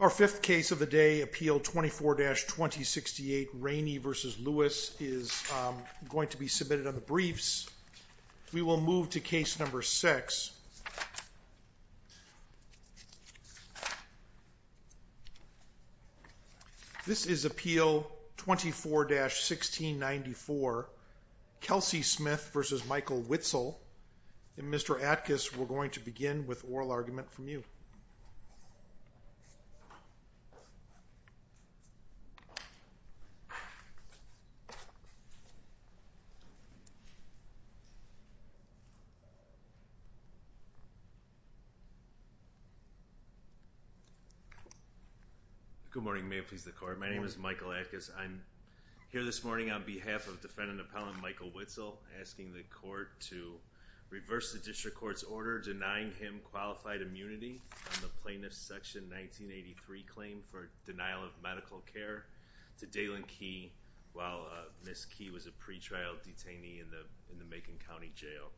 Our fifth case of the day, Appeal 24-2068, Rainey v. Lewis, is going to be submitted on the briefs. We will move to case number six. This is Appeal 24-1694, Kelsey Smith v. Michael Whitsel, and Mr. Atkus, we're going to begin with oral argument from you. Michael Atkus Good morning, may it please the court, my name is Michael Atkus. I'm here this morning on behalf of defendant-appellant Michael Whitsel, asking the court to reverse the district court's order denying him qualified immunity on the Plaintiff's Section 1983 claim for denial of medical care to Dalen Key, while Ms. Key was a pretrial detainee in the Macon County Jail.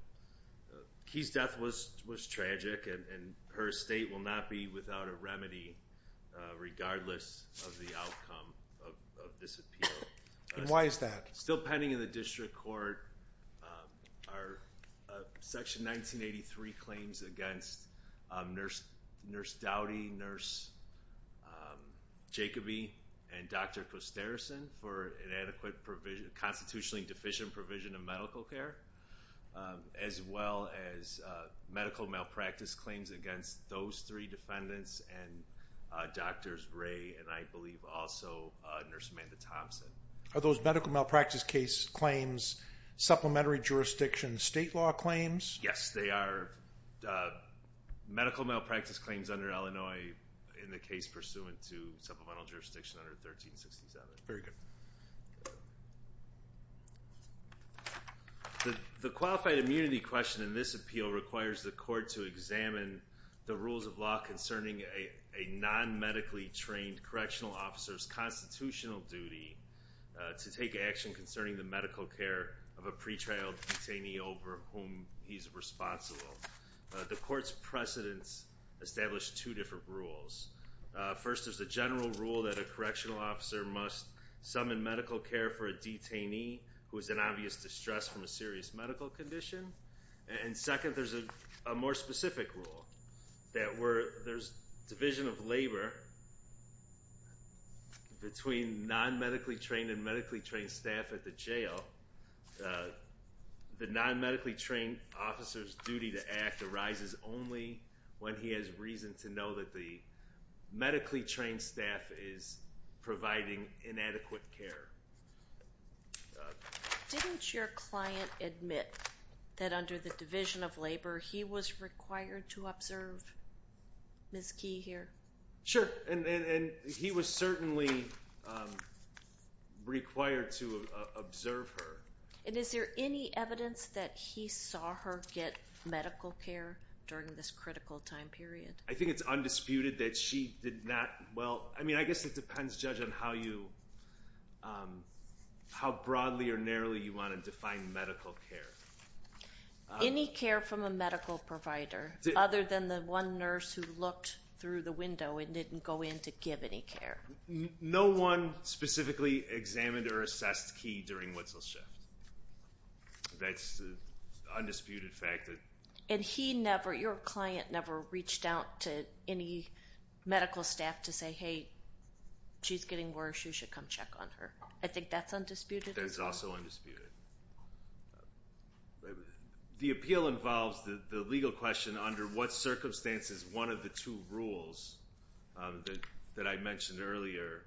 Key's death was tragic, and her estate will not be without a remedy, regardless of the outcome of this appeal. Michael Atkus Why is that? Michael Atkus Are those medical malpractice case claims supplementary jurisdiction state law claims? Michael Atkus So, the court's precedents establish two different rules. First, there's a general rule that a correctional officer must summon medical care for a detainee who is in obvious distress from a serious medical condition. Michael Atkus And second, there's a more specific rule that where there's division of labor between non-medically trained and medically trained staff at the jail, the non-medically trained officer's duty to act arises only when he has reason to know that the medically trained staff is providing inadequate care. Mary Striegel Didn't your client admit that under the division of labor he was required to observe Ms. Key here? Michael Atkus Sure, and he was certainly required to observe her. Mary Striegel And is there any evidence that he saw her get medical care during this critical time period? Michael Atkus I think it's undisputed that she did not—well, I mean, I guess it depends, Judge, on how you—how broadly or narrowly you want to define medical care. Mary Striegel Any care from a medical provider, other than the one nurse who looked through the window and didn't go in to give any care? Michael Atkus No one specifically examined or assessed Key during Witzel's shift. That's an undisputed fact. Mary Striegel And he never—your client never reached out to any medical staff to say, hey, she's getting worse. You should come check on her. I think that's undisputed as well. Michael Atkus That's also undisputed. The appeal involves the legal question under what circumstances one of the two rules that I mentioned earlier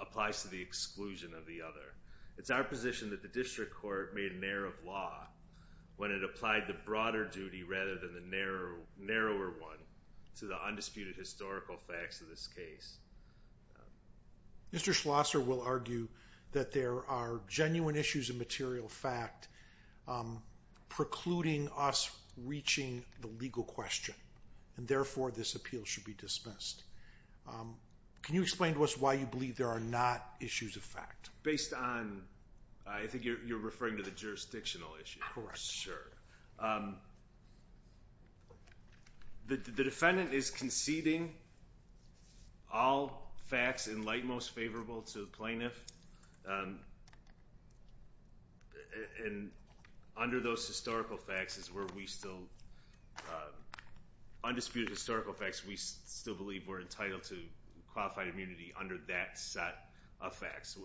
applies to the exclusion of the other. It's our position that the district court made an error of law when it applied the broader duty rather than the narrower one to the undisputed historical facts of this case. Mr. Schlosser will argue that there are genuine issues of material fact precluding us reaching the legal question, and therefore this appeal should be dismissed. Can you explain to us why you believe there are not issues of fact? Based on—I think you're referring to the jurisdictional issue. The defendant is conceding all facts in light most favorable to the plaintiff, and under those historical facts is where we still—undisputed historical facts, we still believe we're entitled to qualified immunity under that set of facts.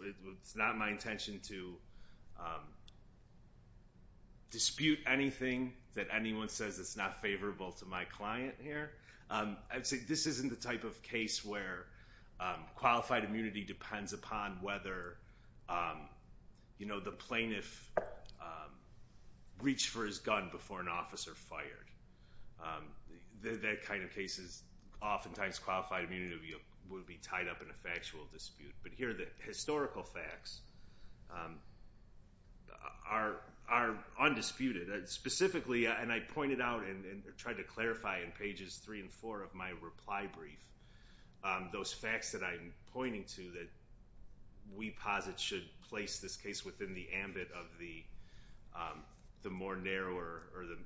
It's not my intention to dispute anything that anyone says that's not favorable to my client here. I'd say this isn't the type of case where qualified immunity depends upon whether the plaintiff reached for his gun before an officer fired. That kind of case is oftentimes qualified immunity would be tied up in a factual dispute, but here the historical facts are undisputed. Specifically, and I pointed out and tried to clarify in pages three and four of my reply brief, those facts that I'm pointing to that we posit should place this case within the ambit of the more narrower or the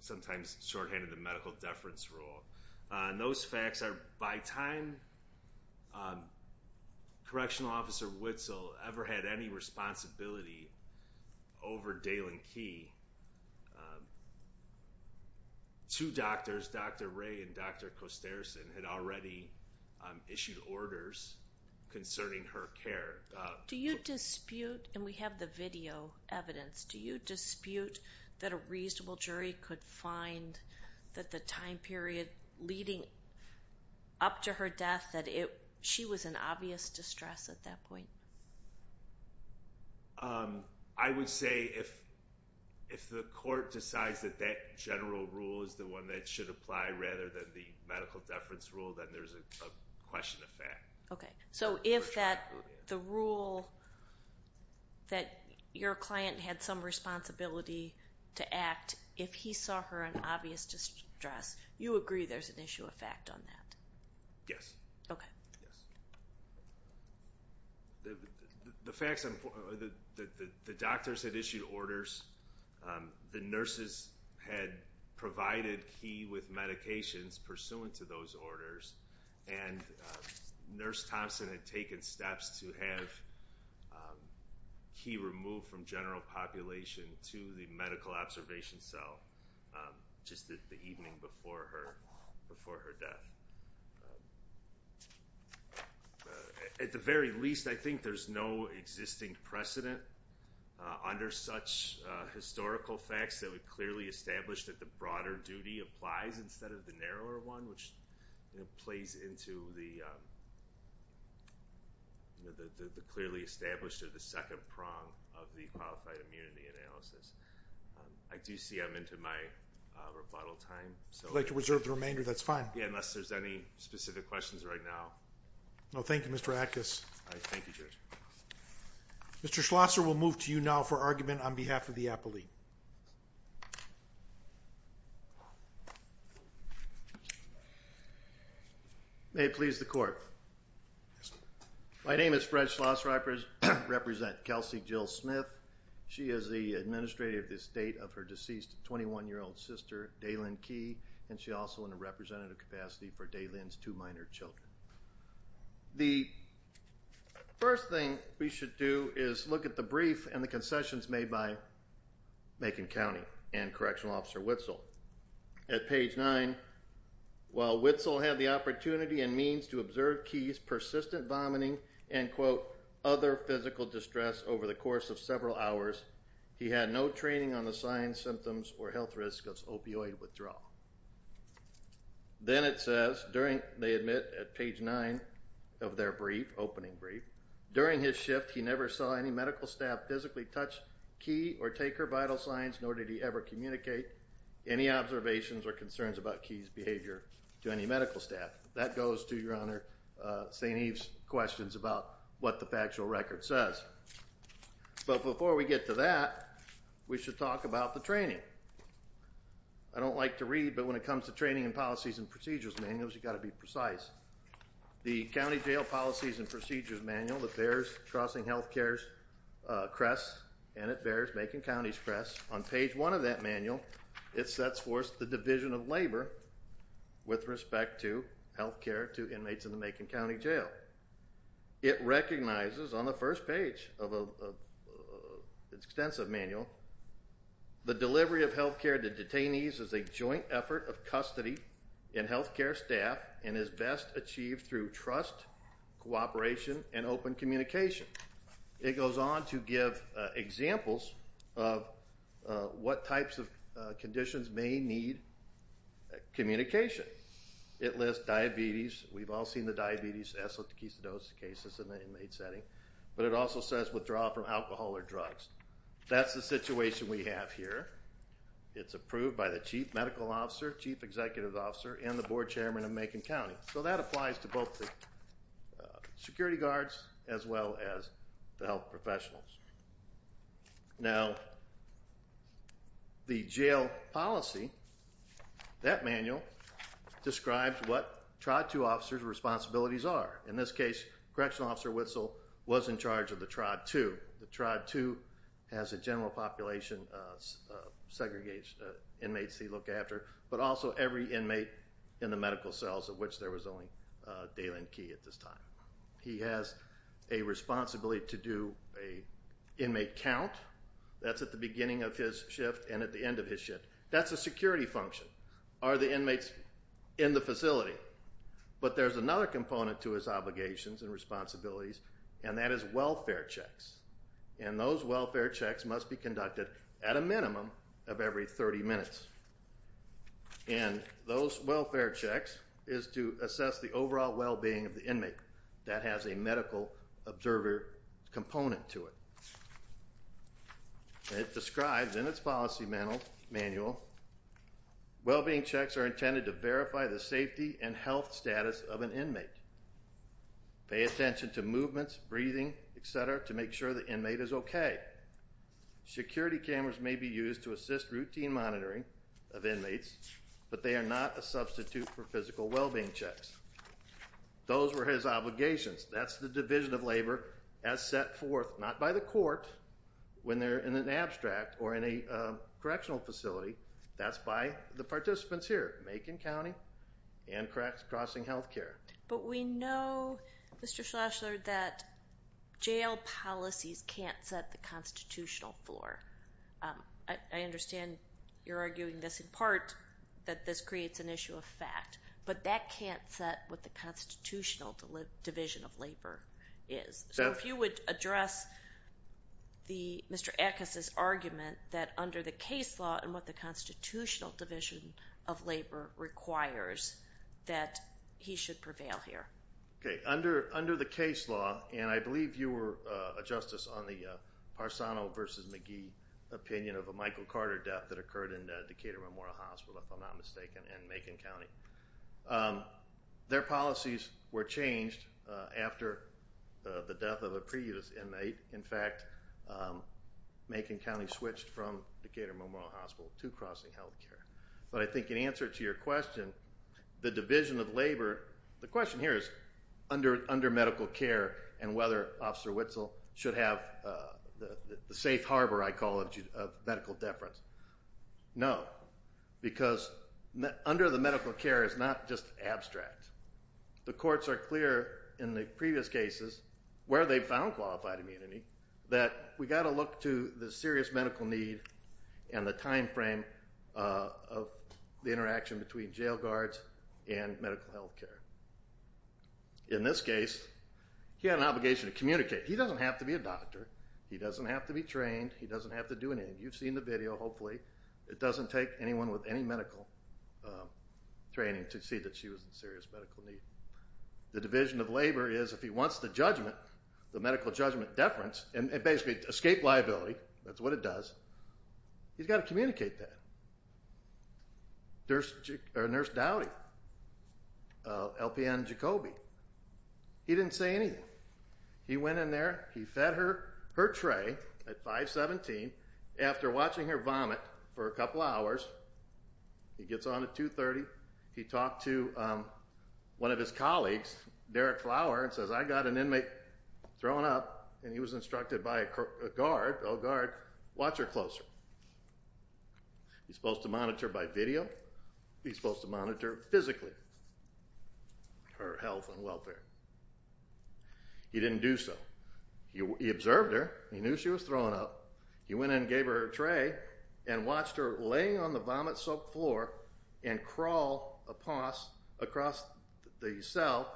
sometimes shorthanded medical deference rule. Those facts are by time Correctional Officer Witzel ever had any responsibility over Daylen Key, two doctors, Dr. Ray and Dr. Kostersen, had already issued orders concerning her care. Do you dispute—and we have the video evidence—do you dispute that a reasonable jury could find that the time period leading up to her death that she was in obvious distress at that point? I would say if the court decides that that general rule is the one that should apply rather than the medical deference rule, then there's a question of fact. Okay, so if the rule that your client had some responsibility to act if he saw her in obvious distress, you agree there's an issue of fact on that? Yes. Okay. Yes. The doctors had issued orders, the nurses had provided Key with medications pursuant to those orders, and Nurse Thompson had taken steps to have Key removed from general population to the medical observation cell just the evening before her death. At the very least, I think there's no existing precedent under such historical facts that would clearly establish that the broader duty applies instead of the narrower one, which plays into the clearly established or the second prong of the qualified immunity analysis. I do see I'm into my rebuttal time. If you'd like to reserve the remainder, that's fine. Yeah, unless there's any specific questions right now. No, thank you, Mr. Atkus. All right, thank you, Judge. Mr. Schlosser will move to you now for argument on behalf of the appellee. May it please the court. Yes, sir. My name is Fred Schlosser. I represent Kelsey Jill Smith. She is the administrator of the estate of her deceased 21-year-old sister, Daylynn Key, and she's also in a representative capacity for Daylynn's two minor children. The first thing we should do is look at the brief and the concessions made by Macon County and Correctional Officer Witzel. At page 9, while Witzel had the opportunity and means to observe Key's persistent vomiting and, quote, other physical distress over the course of several hours, he had no training on the signs, symptoms, or health risks of opioid withdrawal. Then it says, they admit at page 9 of their brief, opening brief, during his shift he never saw any medical staff physically touch Key or take her vital signs, nor did he ever communicate any observations or concerns about Key's behavior to any medical staff. That goes to, Your Honor, St. Eve's questions about what the factual record says. But before we get to that, we should talk about the training. I don't like to read, but when it comes to training and policies and procedures manuals, you've got to be precise. The County Jail Policies and Procedures Manual that bears Crossing Health Care's crest, and it bears Macon County's crest. On page 1 of that manual, it sets forth the division of labor with respect to health care to inmates in the Macon County Jail. It recognizes on the first page of an extensive manual, the delivery of health care to detainees is a joint effort of custody in health care staff, and is best achieved through trust, cooperation, and open communication. It goes on to give examples of what types of conditions may need communication. It lists diabetes, we've all seen the diabetes, eslick, tachycidosis cases in the inmate setting, but it also says withdrawal from alcohol or drugs. That's the situation we have here. It's approved by the Chief Medical Officer, Chief Executive Officer, and the Board Chairman of Macon County. So that applies to both the security guards as well as the health professionals. Now, the jail policy, that manual, describes what TRIBE 2 officers' responsibilities are. In this case, Correctional Officer Witzel was in charge of the TRIBE 2. The TRIBE 2 has a general population of segregated inmates they look after, but also every inmate in the medical cells, of which there was only Dalen Key at this time. He has a responsibility to do an inmate count. That's at the beginning of his shift and at the end of his shift. That's a security function. Are the inmates in the facility? But there's another component to his obligations and responsibilities, and that is welfare checks. And those welfare checks must be conducted at a minimum of every 30 minutes. And those welfare checks is to assess the overall well-being of the inmate. That has a medical observer component to it. It describes in its policy manual, well-being checks are intended to verify the safety and health status of an inmate, pay attention to movements, breathing, et cetera, to make sure the inmate is okay. Security cameras may be used to assist routine monitoring of inmates, but they are not a substitute for physical well-being checks. Those were his obligations. That's the division of labor as set forth, not by the court when they're in an abstract or in a correctional facility. That's by the participants here, Macon County and Crossing Health Care. But we know, Mr. Schlashler, that jail policies can't set the constitutional floor. I understand you're arguing this in part, that this creates an issue of fact, but that can't set what the constitutional division of labor is. So if you would address Mr. Ackes' argument that under the case law and what the constitutional division of labor requires, that he should prevail here. Okay, under the case law, and I believe you were a justice on the Parsano v. McGee opinion of a Michael Carter death that occurred in Decatur Memorial Hospital, if I'm not mistaken, in Macon County. Their policies were changed after the death of a previous inmate. In fact, Macon County switched from Decatur Memorial Hospital to Crossing Health Care. But I think in answer to your question, the division of labor, the question here is, under medical care and whether Officer Witzel should have the safe harbor, I call it, of medical deference. No, because under the medical care is not just abstract. The courts are clear in the previous cases where they found qualified immunity that we've got to look to the serious medical need and the time frame of the interaction between jail guards and medical health care. In this case, he had an obligation to communicate. He doesn't have to be a doctor. He doesn't have to be trained. He doesn't have to do anything. You've seen the video, hopefully. It doesn't take anyone with any medical training to see that she was in serious medical need. The division of labor is if he wants the medical judgment deference and basically escape liability, that's what it does, he's got to communicate that. Nurse Dowdy, LPN Jacoby, he didn't say anything. He went in there. He fed her her tray at 517. After watching her vomit for a couple hours, he gets on at 230. He talked to one of his colleagues, Derek Flower, and says, I got an inmate thrown up, and he was instructed by a guard, oh, guard, watch her closer. He's supposed to monitor by video. He's supposed to monitor physically her health and welfare. He didn't do so. He observed her. He knew she was thrown up. He went in and gave her her tray and watched her laying on the vomit-soaked floor and crawl across the cell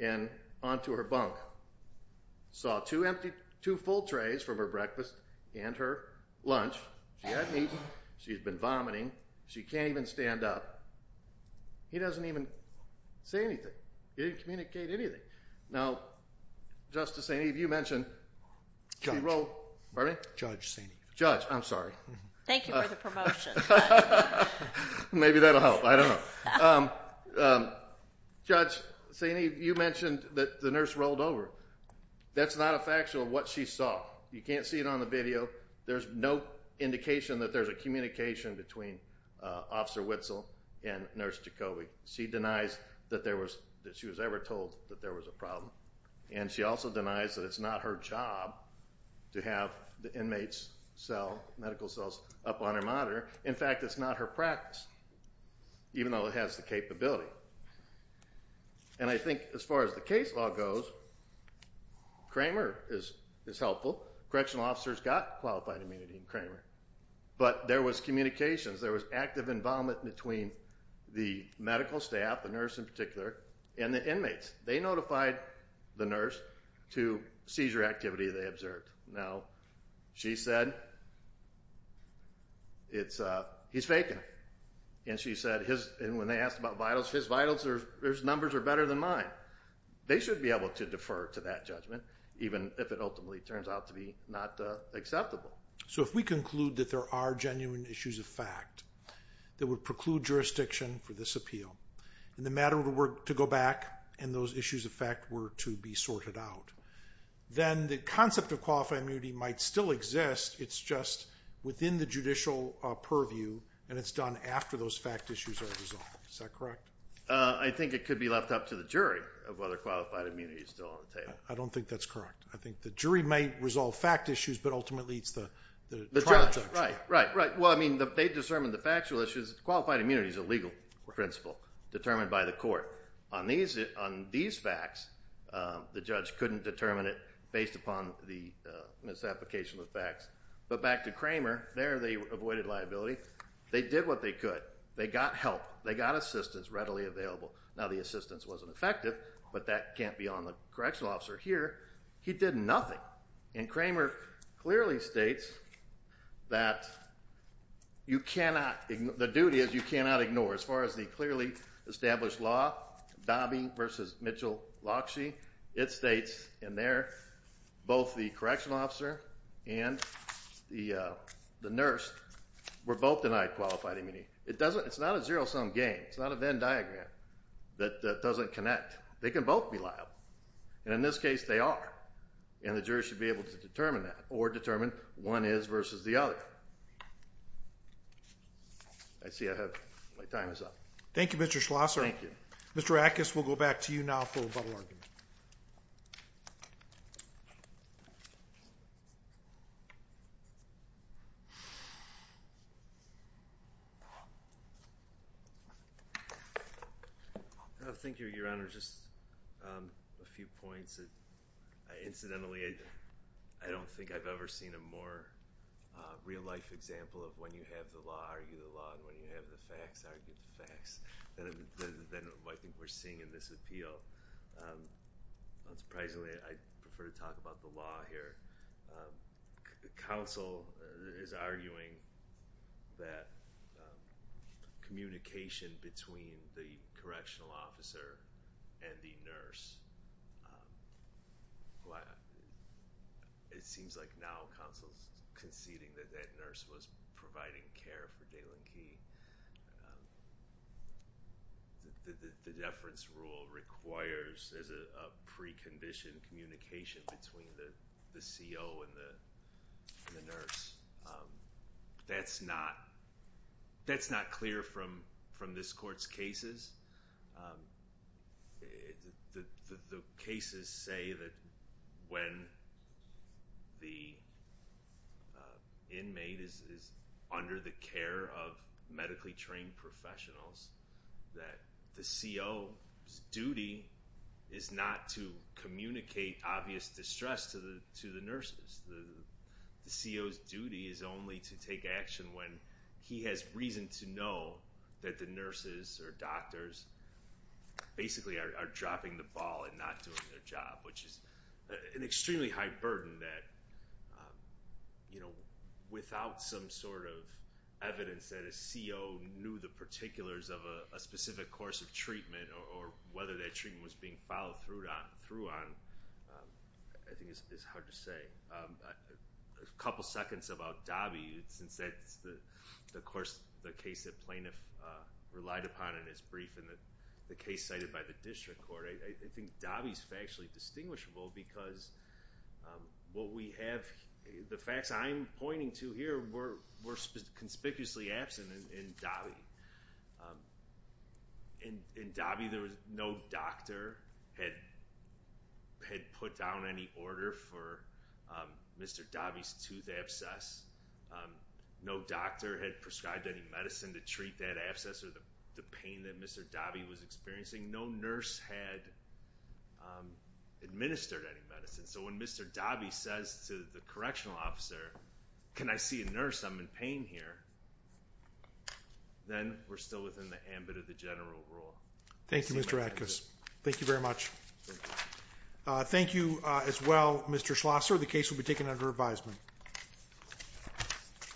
and onto her bunk. Saw two full trays from her breakfast and her lunch. She hasn't eaten. She's been vomiting. She can't even stand up. He doesn't even say anything. He didn't communicate anything. Now, Justice Sainte-Eve, you mentioned she wrote – pardon me? Judge Sainte-Eve. Judge, I'm sorry. Thank you for the promotion. Maybe that'll help. I don't know. Judge Sainte-Eve, you mentioned that the nurse rolled over. That's not a factual what she saw. You can't see it on the video. There's no indication that there's a communication between Officer Witzel and Nurse Jacoby. She denies that there was – that she was ever told that there was a problem. And she also denies that it's not her job to have the inmates' cell, medical cells, up on her monitor. In fact, it's not her practice, even though it has the capability. And I think as far as the case law goes, Kramer is helpful. Correctional officers got qualified immunity in Kramer. But there was communications. There was active involvement between the medical staff, the nurse in particular, and the inmates. They notified the nurse to seizure activity they observed. Now, she said, he's faking it. And she said, when they asked about vitals, his vitals numbers are better than mine. They should be able to defer to that judgment, even if it ultimately turns out to be not acceptable. So if we conclude that there are genuine issues of fact that would preclude jurisdiction for this appeal and the matter were to go back and those issues of fact were to be sorted out, then the concept of qualified immunity might still exist. It's just within the judicial purview, and it's done after those fact issues are resolved. Is that correct? I think it could be left up to the jury of whether qualified immunity is still on the table. I don't think that's correct. I think the jury may resolve fact issues, but ultimately it's the trial judge. Right, right. Well, I mean, they discern the factual issues. Qualified immunity is a legal principle determined by the court. On these facts, the judge couldn't determine it based upon the misapplication of facts. But back to Kramer, there they avoided liability. They did what they could. They got help. They got assistance readily available. Now, the assistance wasn't effective, but that can't be on the correctional officer here. He did nothing. And Kramer clearly states that you cannot, the duty is you cannot ignore, as far as the clearly established law, Dobbie v. Mitchell-Lockshee, it states in there both the correctional officer and the nurse were both denied qualified immunity. It's not a zero-sum game. It's not a Venn diagram that doesn't connect. They can both be liable. And in this case, they are. And the jury should be able to determine that or determine one is versus the other. I see I have my time is up. Thank you, Mr. Schlosser. Thank you. Mr. Ackes, we'll go back to you now for a bubble argument. Thank you, Your Honor. Just a few points. Incidentally, I don't think I've ever seen a more real-life example of when you have the law, argue the law, and when you have the facts, argue the facts than I think we're seeing in this appeal. Unsurprisingly, I prefer to talk about the law here. Counsel is arguing that communication between the correctional officer and the nurse, it seems like now counsel's conceding that that nurse was providing care for Daylen Key. The deference rule requires a preconditioned communication between the CO and the nurse. That's not clear from this court's cases. The cases say that when the inmate is under the care of medically trained professionals, that the CO's duty is not to communicate obvious distress to the nurses. The CO's duty is only to take action when he has reason to know that the nurses or doctors basically are dropping the ball and not doing their job, which is an extremely high burden that, you know, without some sort of evidence that a CO knew the particulars of a specific course of treatment or whether that treatment was being followed through on, I think it's hard to say. A couple seconds about Dobby, since that's, of course, the case that plaintiff relied upon in his brief and the case cited by the district court, I think Dobby's factually distinguishable because what we have, the facts I'm pointing to here were conspicuously absent in Dobby. In Dobby there was no doctor had put down any order for Mr. Dobby's tooth abscess. No doctor had prescribed any medicine to treat that abscess or the pain that Mr. Dobby was experiencing. No nurse had administered any medicine. So when Mr. Dobby says to the correctional officer, can I see a nurse? I'm in pain here. Then we're still within the ambit of the general rule. Thank you, Mr. Atkus. Thank you very much. Thank you as well, Mr. Schlosser. The case will be taken under advisement.